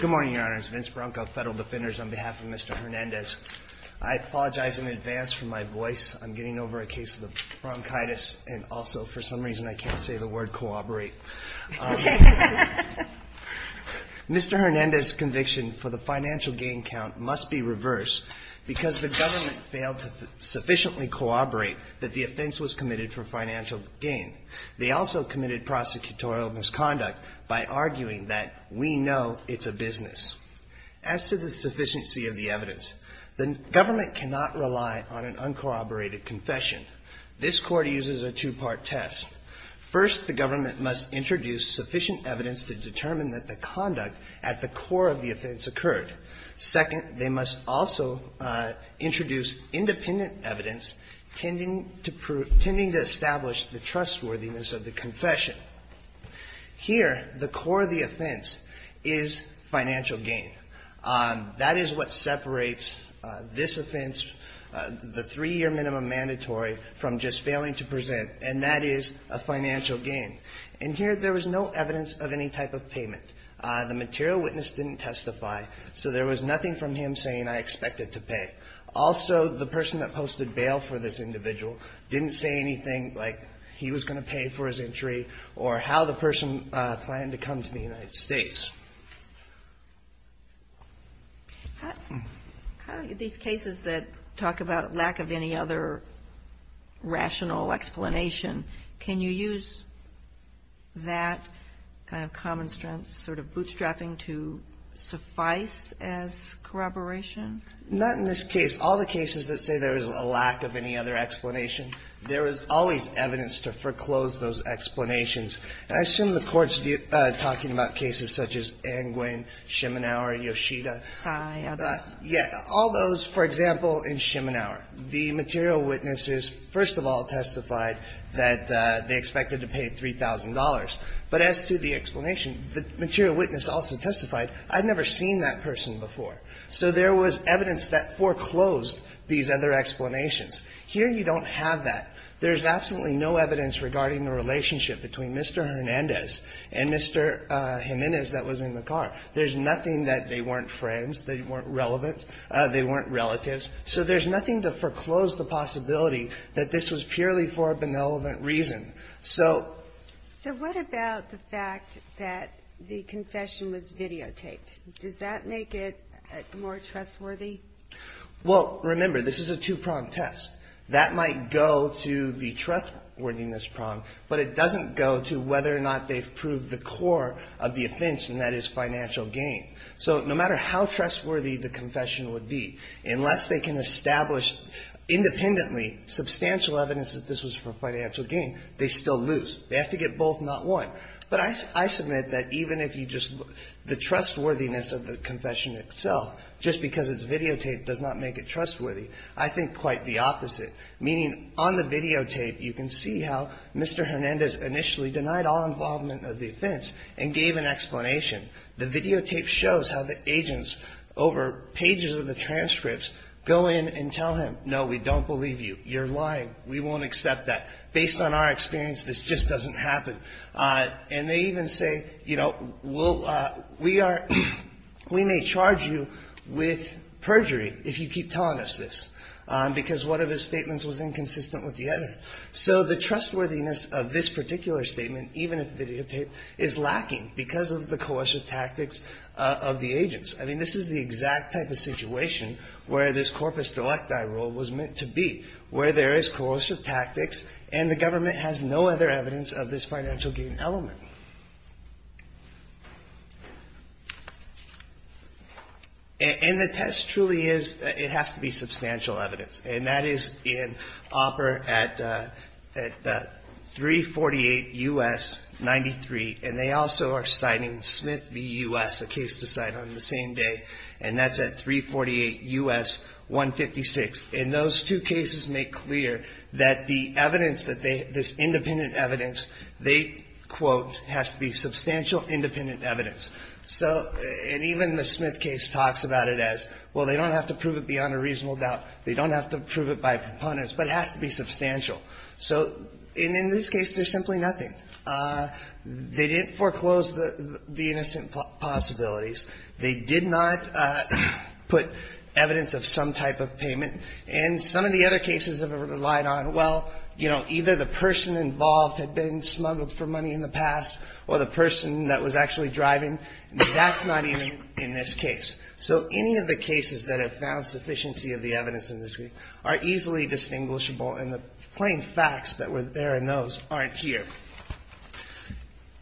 Good morning, Your Honors. Vince Bronco, Federal Defenders, on behalf of Mr. Hernandez. I apologize in advance for my voice. I'm getting over a case of the bronchitis and also, for some reason, I can't say the word cooperate. Mr. Hernandez's conviction for the financial gain count must be reversed because the government failed to sufficiently corroborate that the offense was committed for financial gain. They also committed prosecutorial misconduct by arguing that we know it's a business. As to the sufficiency of the evidence, the government cannot rely on an uncorroborated confession. This court uses a two-part test. First, the government must introduce sufficient evidence to determine that the conduct at the core of the offense occurred. Second, they must also introduce independent evidence tending to establish the trustworthiness of the confession. Here, the core of the offense is financial gain. That is what separates this offense, the three-year minimum mandatory, from just failing to present, and that is a financial gain. And here, there was no evidence of any type of payment. The material witness didn't testify, so there was nothing from him saying, I expect it to pay. Also, the person that posted bail for this individual didn't say anything like he was going to pay for his entry or how the person planned to come to the United States. How do these cases that talk about lack of any other rational explanation, can you use that kind of common sense sort of bootstrapping to suffice as corroboration? Not in this case. All the cases that say there is a lack of any other explanation, there is always evidence to foreclose those explanations. And I assume the Court's talking about cases such as Anguin, Schimenauer, Yoshida. Yes. All those, for example, in Schimenauer, the material witnesses, first of all, testified that they expected to pay $3,000. But as to the explanation, the material witness also testified, I've never seen that person before. So there was evidence that foreclosed these other explanations. Here you don't have that. There's absolutely no evidence regarding the relationship between Mr. Hernandez and Mr. Jimenez that was in the car. There's nothing that they weren't friends, they weren't relevant, they weren't relatives. So there's nothing to foreclose the possibility that this was purely for a benevolent reason. So what about the fact that the confession was videotaped? Does that make it more trustworthy? Well, remember, this is a two-prong test. That might go to the trustworthiness prong, but it doesn't go to whether or not they've proved the core of the offense, and that is financial gain. So no matter how trustworthy the confession would be, unless they can establish independently substantial evidence that this was for financial gain, they still lose. They have to get both, not one. But I submit that even if you just look, the trustworthiness of the confession itself, just because it's videotaped does not make it trustworthy. I think quite the opposite, meaning on the videotape you can see how Mr. Hernandez initially denied all involvement of the offense and gave an explanation. The videotape shows how the agents, over pages of the transcripts, go in and tell him, no, we don't believe you, you're lying, we won't accept that. Based on our experience, this just doesn't happen. And they even say, you know, we are we may charge you with perjury if you keep telling us this, because one of his statements was inconsistent with the other. So the trustworthiness of this particular statement, even if videotaped, is lacking because of the coercive tactics of the agents. I mean, this is the exact type of situation where this corpus delicti rule was meant to be, where there is coercive tactics and the government has no other evidence of this financial gain element. And the test truly is, it has to be substantial evidence. And that is in OPER at 348 U.S. 93, and they also are citing Smith v. U.S., a case to cite on the same day, and that's at 348 U.S. 156. And those two cases make clear that the evidence that they, this independent evidence, they quote, has to be substantial independent evidence. So, and even the Smith case talks about it as, well, they don't have to prove it beyond a reasonable doubt. They don't have to prove it by preponderance, but it has to be substantial. So in this case, there's simply nothing. They didn't foreclose the innocent possibilities. They did not put evidence of some type of payment. And some of the other cases have relied on, well, you know, either the person involved had been smuggled for money in the past or the person that was actually driving. That's not even in this case. So any of the cases that have found sufficiency of the evidence in this case are easily distinguishable, and the plain facts that were there in those aren't here.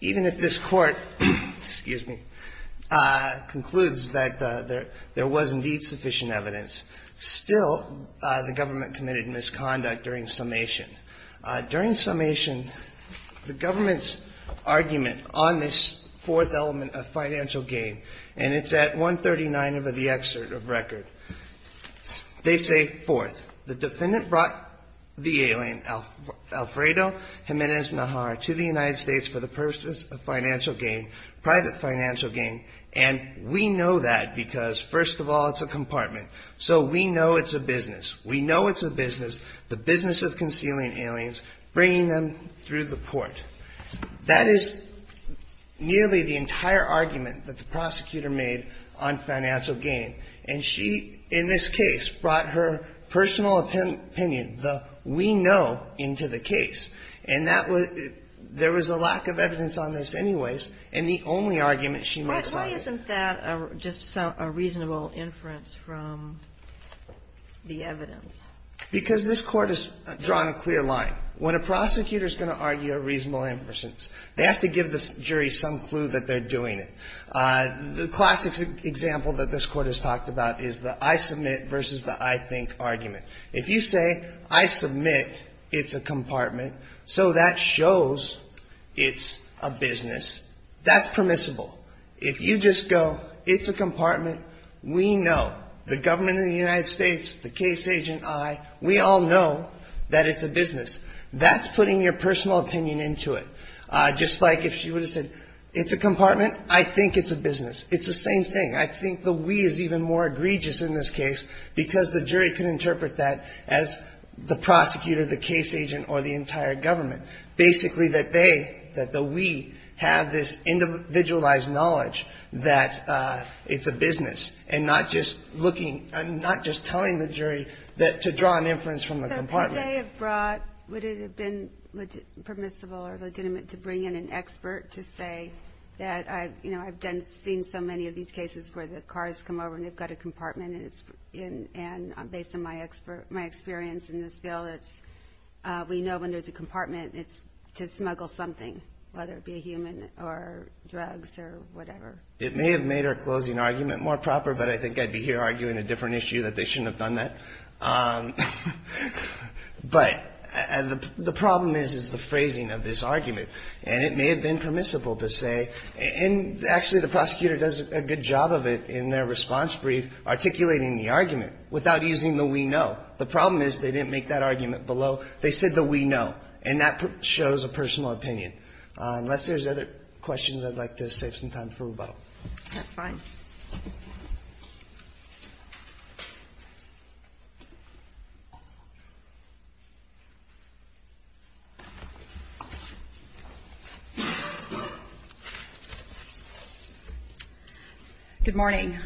Even if this Court, excuse me, concludes that there was indeed sufficient evidence, still the government committed misconduct during summation. During summation, the government's argument on this fourth element of financial gain, and it's at 139 over the excerpt of record, they say, fourth, the defendant brought the alien Alfredo Jimenez-Najar to the United States for the purpose of financial gain, private financial gain. And we know that because, first of all, it's a compartment. So we know it's a business. We know it's a business, the business of concealing aliens, bringing them through the court. That is nearly the entire argument that the prosecutor made on financial gain. And she, in this case, brought her personal opinion, the we know, into the case. And that was there was a lack of reason, and the only argument she makes on it. Why isn't that just a reasonable inference from the evidence? Because this Court has drawn a clear line. When a prosecutor is going to argue a reasonable inference, they have to give the jury some clue that they're doing it. The classic example that this Court has talked about is the I submit versus the I think argument. If you say, I submit it's a compartment, so that shows it's a business, that's permissible. If you just go, it's a compartment, we know, the government of the United States, the case agent, I, we all know that it's a business. That's putting your personal opinion into it. Just like if she would have said, it's a compartment, I think it's a business. It's the same thing. I think the we is even more egregious in this case because the jury can interpret that as the prosecutor, the case agent or the entire government. Basically that they, that the we, have this individualized knowledge that it's a business, and not just looking, not just telling the jury to draw an inference from the compartment. So could they have brought, would it have been permissible or legitimate to bring in an expert to say that I've, you know, I've done, seen so many of these cases where the cars come over and they've got a compartment and it's, and based on my experience in this bill, it's, we know when there's a compartment, it's to smuggle something, whether it be a human or drugs or whatever. It may have made our closing argument more proper, but I think I'd be here arguing a different issue that they shouldn't have done that. But the problem is, is the phrasing of this argument. And it may have been permissible to say, and actually the prosecutor does a good job of it in their response brief, articulating the argument without using the we know. The problem is they didn't make that argument below. They said the we know. And that shows a personal opinion. Unless there's other questions, I'd like to save some time for rebuttal. Good morning.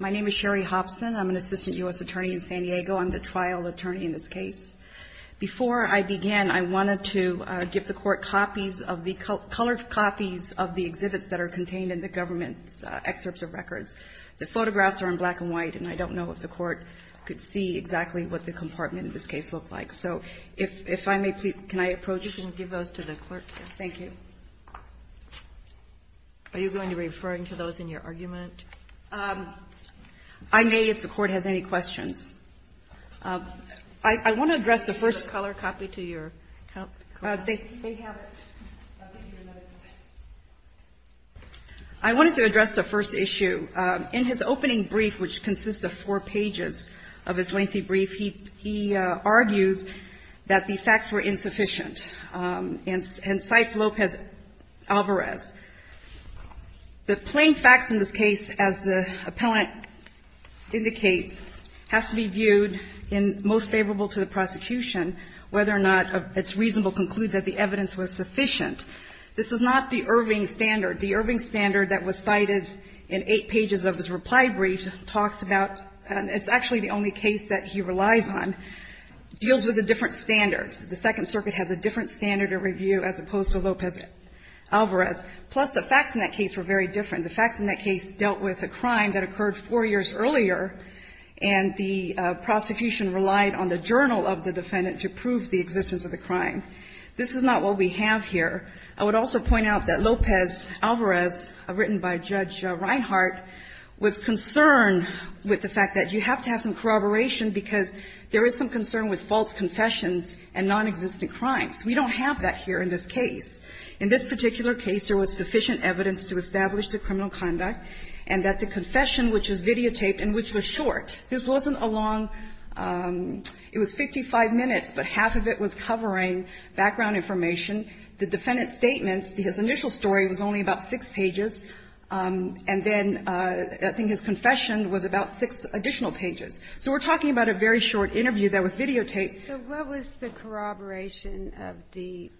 My name is Sherry Hobson. I'm an assistant U.S. attorney in San Diego. I'm the trial attorney in this case. Before I began, I wanted to give the court copies of the colored copies of the exhibits that are contained in the government's excerpts of records. The photographs are in black and white, and I don't know if the court could see exactly what the compartment in this case looked like. So if I may please, can I approach you? You can give those to the clerk. Thank you. Are you going to be referring to those in your argument? I may, if the court has any questions. I want to address the first color copy to your They have it. I wanted to address the first issue. In his opening brief, which consists of four pages of his lengthy brief, he argues that the facts were insufficient, and cites Lopez-Alvarez. The plain facts in this case, as the appellant indicates, has to be viewed in most favorable to the prosecution, whether or not it's reasonable to conclude that the evidence was sufficient. This is not the Irving standard. The Irving standard that was cited in eight pages of his reply brief talks about, it's actually the only case that he relies on, deals with a different standard. The Second Circuit has a different standard of review as opposed to Lopez-Alvarez. Plus, the facts in that case were very different. And the facts in that case dealt with a crime that occurred four years earlier, and the prosecution relied on the journal of the defendant to prove the existence of the crime. This is not what we have here. I would also point out that Lopez-Alvarez, written by Judge Reinhart, was concerned with the fact that you have to have some corroboration because there is some concern with false confessions and nonexistent crimes. We don't have that here in this case. In this particular case, there was sufficient evidence to establish the criminal conduct and that the confession, which was videotaped and which was short, this wasn't a long – it was 55 minutes, but half of it was covering background information. The defendant's statements, his initial story was only about six pages, and then I think his confession was about six additional pages. So we're talking about a very short interview that was videotaped. Ginsburg. So what was the corroboration of the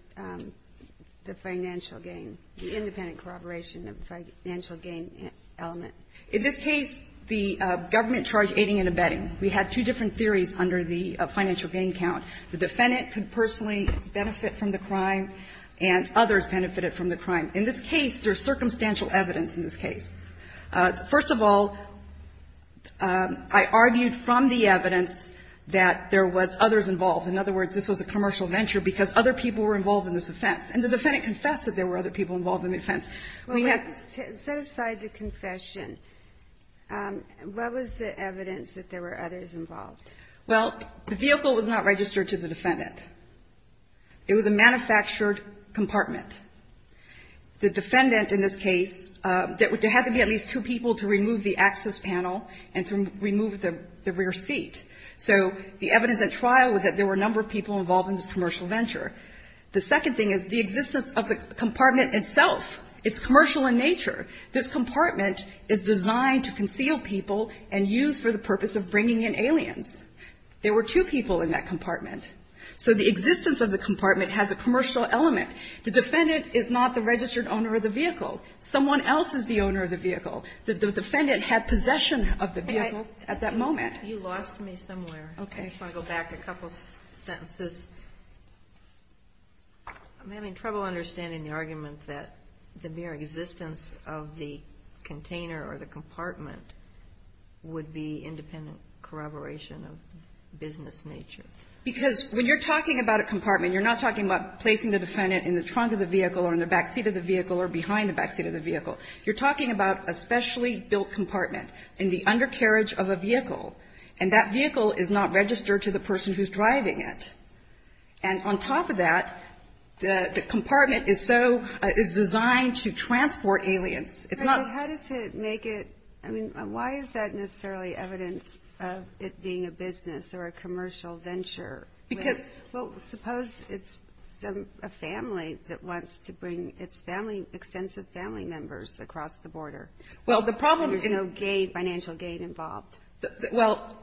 financial gain, the independent corroboration of the financial gain element? In this case, the government charged aiding and abetting. We had two different theories under the financial gain count. The defendant could personally benefit from the crime, and others benefited from the crime. In this case, there's circumstantial evidence in this case. First of all, I argued from the evidence that there was others involved. In other words, this was a commercial venture because other people were involved in this offense. And the defendant confessed that there were other people involved in the offense. We have to set aside the confession. What was the evidence that there were others involved? Well, the vehicle was not registered to the defendant. It was a manufactured compartment. The defendant in this case, there had to be at least two people to remove the access panel and to remove the rear seat. So the evidence at trial was that there were a number of people involved in this commercial venture. The second thing is the existence of the compartment itself. It's commercial in nature. This compartment is designed to conceal people and use for the purpose of bringing in aliens. There were two people in that compartment. So the existence of the compartment has a commercial element. The defendant is not the registered owner of the vehicle. Someone else is the owner of the vehicle. The defendant had possession of the vehicle at that moment. You lost me somewhere. I just want to go back a couple sentences. I'm having trouble understanding the argument that the mere existence of the container or the compartment would be independent corroboration of business nature. Because when you're talking about a compartment, you're not talking about placing the defendant in the trunk of the vehicle or in the backseat of the vehicle or behind the backseat of the vehicle. You're talking about a specially built compartment in the undercarriage of a vehicle. And that vehicle is not registered to the person who's driving it. And on top of that, the compartment is so – is designed to transport aliens. It's not – But how does it make it – I mean, why is that necessarily evidence of it being a business or a commercial venture? Because – Well, suppose it's a family that wants to bring its family – extensive family members across the border. Well, the problem is – And there's no gate, financial gate involved. Well,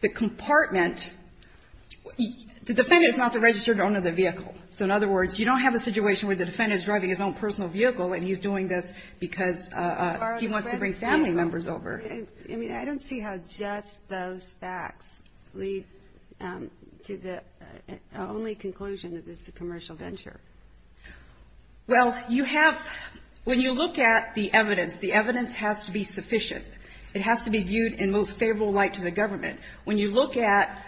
the compartment – the defendant is not the registered owner of the vehicle. So in other words, you don't have a situation where the defendant is driving his own personal vehicle and he's doing this because he wants to bring family members over. I mean, I don't see how just those facts lead to the only conclusion that this is a commercial venture. Well, you have – when you look at the evidence, the evidence has to be sufficient. It has to be viewed in most favorable light to the government. When you look at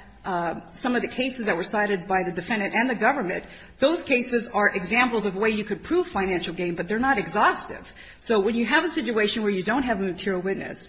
some of the cases that were cited by the defendant and the government, those cases are examples of a way you could prove financial gain, but they're not exhaustive. So when you have a situation where you don't have a material witness,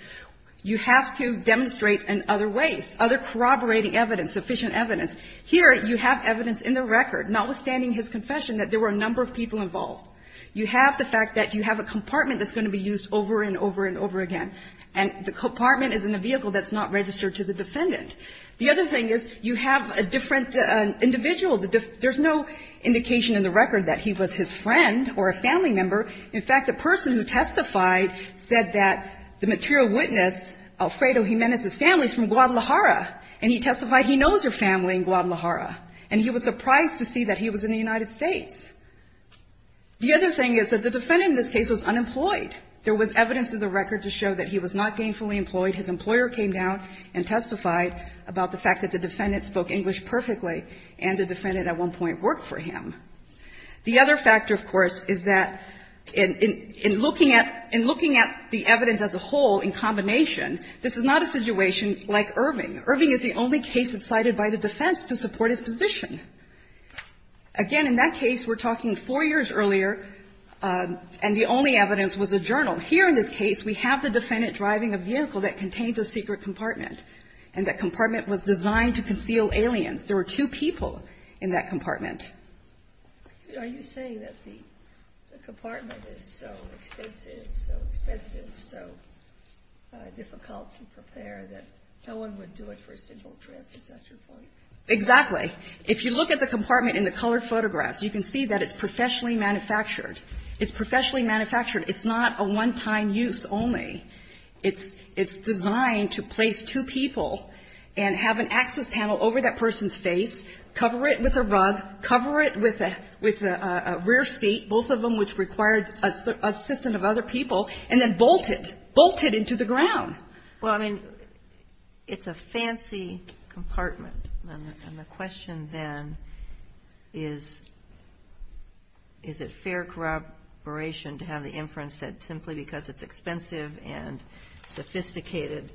you have to demonstrate in other ways, other corroborating evidence, sufficient evidence. Here, you have evidence in the record, notwithstanding his confession, that there were a number of people involved. You have the fact that you have a compartment that's going to be used over and over and over again. And the compartment is in a vehicle that's not registered to the defendant. The other thing is you have a different individual. There's no indication in the record that he was his friend or a family member. In fact, the person who testified said that the material witness, Alfredo Jimenez's family is from Guadalajara, and he testified he knows her family in Guadalajara. And he was surprised to see that he was in the United States. The other thing is that the defendant in this case was unemployed. There was evidence in the record to show that he was not gainfully employed. His employer came down and testified about the fact that the defendant spoke English perfectly, and the defendant at one point worked for him. The other factor, of course, is that in looking at the evidence as a whole in combination, this is not a situation like Irving. Irving is the only case cited by the defense to support his position. Again, in that case, we're talking 4 years earlier, and the only evidence was a journal. Here in this case, we have the defendant driving a vehicle that contains a secret compartment, and that compartment was designed to conceal aliens. There were two people in that compartment. Are you saying that the compartment is so extensive, so expensive, so difficult to prepare that no one would do it for a single trip? Is that your point? Exactly. If you look at the compartment in the colored photographs, you can see that it's professionally manufactured. It's professionally manufactured. It's not a one-time use only. It's designed to place two people and have an access panel over that person's face, cover it with a rug, cover it with a rear seat, both of them which required assistance of other people, and then bolted, bolted into the ground. Well, I mean, it's a fancy compartment, and the question then is, is it fair corroboration to have the inference that simply because it's expensive and sophisticated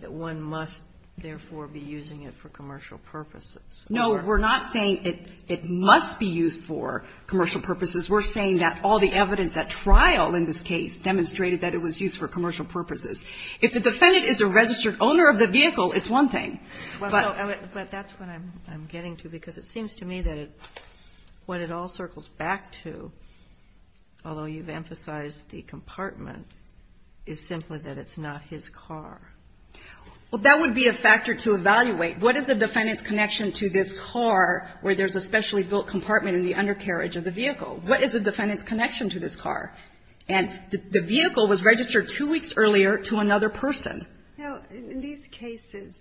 that one must, therefore, be using it for commercial purposes? No. We're not saying it must be used for commercial purposes. We're saying that all the evidence at trial in this case demonstrated that it was used for commercial purposes. If the defendant is a registered owner of the vehicle, it's one thing. But that's what I'm getting to, because it seems to me that what it all circles back to, although you've emphasized the compartment, is simply that it's not his car. Well, that would be a factor to evaluate. What is the defendant's connection to this car where there's a specially built compartment in the undercarriage of the vehicle? What is the defendant's connection to this car? And the vehicle was registered two weeks earlier to another person. No. In these cases,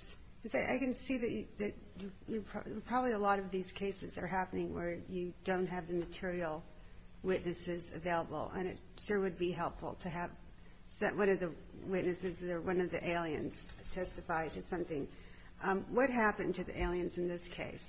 I can see that probably a lot of these cases are happening where you don't have the material witnesses available. And it sure would be helpful to have one of the witnesses or one of the aliens testify to something. What happened to the aliens in this case?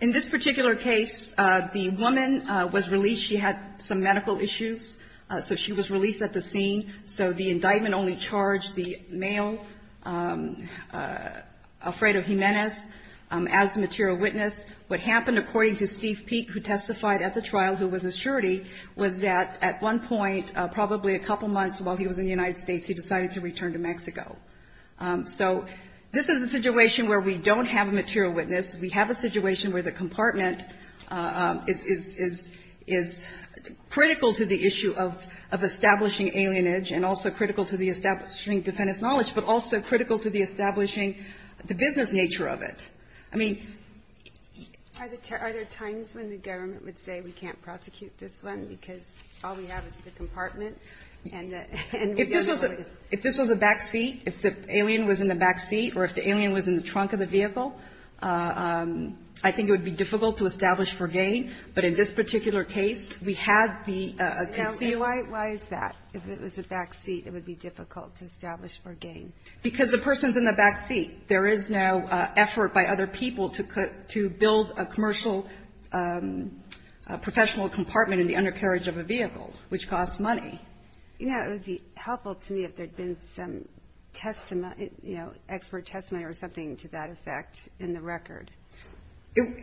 In this particular case, the woman was released. She had some medical issues, so she was released at the scene. So the indictment only charged the male, Alfredo Jimenez, as the material witness. What happened, according to Steve Peek, who testified at the trial, who was a surety, was that at one point, probably a couple months while he was in the United States, he decided to return to Mexico. So this is a situation where we don't have a material witness. We have a situation where the compartment is critical to the issue of establishing alienage and also critical to the establishing defendant's knowledge, but also critical to the establishing the business nature of it. I mean... Are there times when the government would say we can't prosecute this one because all we have is the compartment? If this was a backseat, if the alien was in the backseat or if the alien was in the trunk of the vehicle, I think it would be difficult to establish for gain. But in this particular case, we had the concealment. Why is that? If it was a backseat, it would be difficult to establish for gain. Because the person's in the backseat. There is no effort by other people to build a commercial professional compartment in the undercarriage of a vehicle, which costs money. You know, it would be helpful to me if there had been some testimony, you know, expert testimony or something to that effect in the record.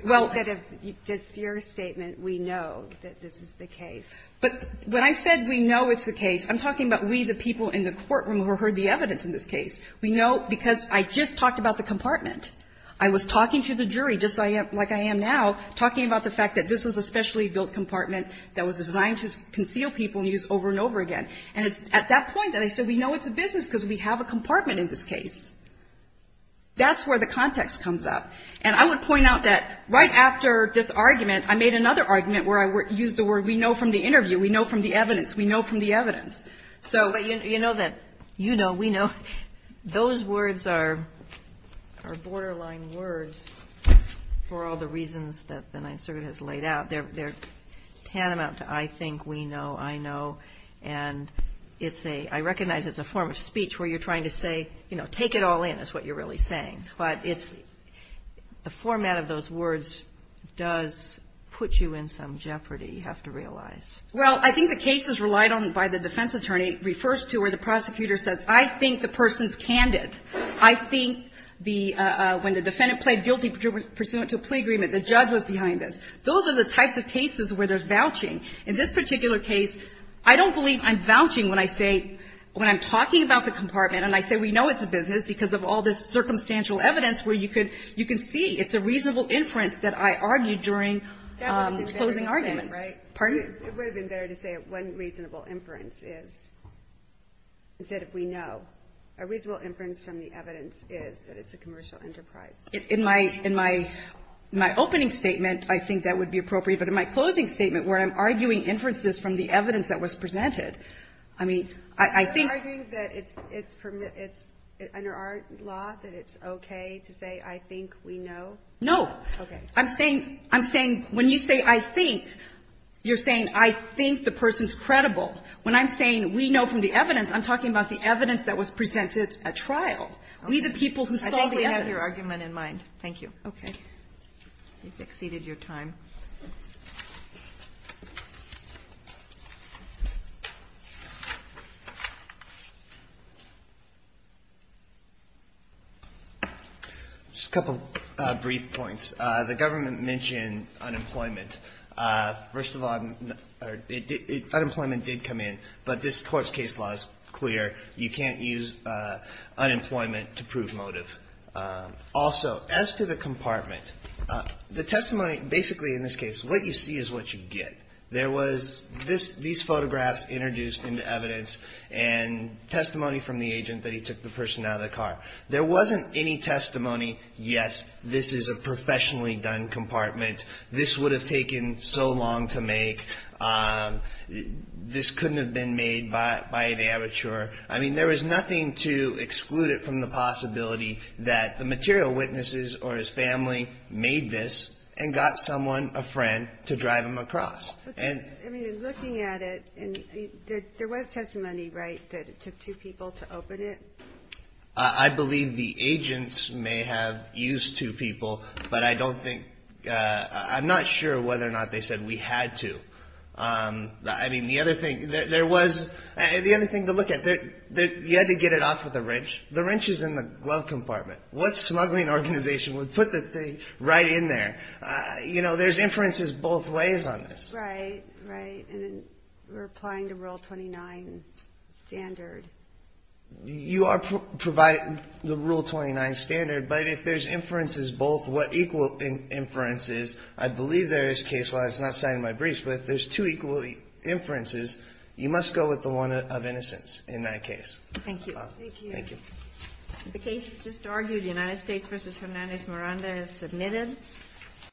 Well... Instead of just your statement, we know that this is the case. But when I said we know it's the case, I'm talking about we, the people in the courtroom who heard the evidence in this case. We know because I just talked about the compartment. I was talking to the jury just like I am now, talking about the fact that this was a specially built compartment that was designed to conceal people and use over and over again. And it's at that point that I said we know it's a business because we have a compartment in this case. That's where the context comes up. And I would point out that right after this argument, I made another argument where I used the word we know from the interview. We know from the evidence. We know from the evidence. So... Those words are borderline words for all the reasons that the Ninth Circuit has laid out. They're tantamount to I think, we know, I know. And it's a – I recognize it's a form of speech where you're trying to say, you know, take it all in is what you're really saying. But it's – the format of those words does put you in some jeopardy, you have to realize. Well, I think the case is relied on by the defense attorney refers to where the prosecutor says, I think the person's candid. I think the – when the defendant pled guilty pursuant to a plea agreement, the judge was behind this. Those are the types of cases where there's vouching. In this particular case, I don't believe I'm vouching when I say – when I'm talking about the compartment and I say we know it's a business because of all this circumstantial evidence where you could – you can see it's a reasonable inference that I argued during closing arguments. It would have been better to say it wasn't reasonable inference is instead of we know. A reasonable inference from the evidence is that it's a commercial enterprise. In my – in my opening statement, I think that would be appropriate. But in my closing statement where I'm arguing inferences from the evidence that was presented, I mean, I think – Are you arguing that it's – under our law that it's okay to say I think we know? No. Okay. I'm saying – I'm saying when you say I think, you're saying I think the person's credible. When I'm saying we know from the evidence, I'm talking about the evidence that was presented at trial. We, the people who saw the evidence. I think we have your argument in mind. Thank you. Okay. You've exceeded your time. Just a couple brief points. The government mentioned unemployment. First of all, unemployment did come in. But this court's case law is clear. You can't use unemployment to prove motive. Also, as to the compartment, the testimony – basically in this case, what you see is what you get. There was – this – these photographs introduced into evidence and testimony from the agent that he took the person out of the car. There wasn't any testimony, yes, this is a professional professionally done compartment. This would have taken so long to make. This couldn't have been made by an amateur. I mean, there was nothing to exclude it from the possibility that the material witnesses or his family made this and got someone, a friend, to drive him across. I mean, looking at it, there was testimony, right, that it took two people to open it? I believe the agents may have used two people, but I don't think – I'm not sure whether or not they said we had to. I mean, the other thing – there was – the other thing to look at, you had to get it off with a wrench. The wrench is in the glove compartment. What smuggling organization would put the thing right in there? You know, there's inferences both ways on this. Right, right. And then we're applying the Rule 29 standard. You are providing the Rule 29 standard, but if there's inferences both what equal inferences, I believe there is case law. It's not cited in my briefs, but if there's two equal inferences, you must go with the one of innocence in that case. Thank you. Thank you. Thank you. The case just argued, United States v. Hernandez Miranda, is submitted.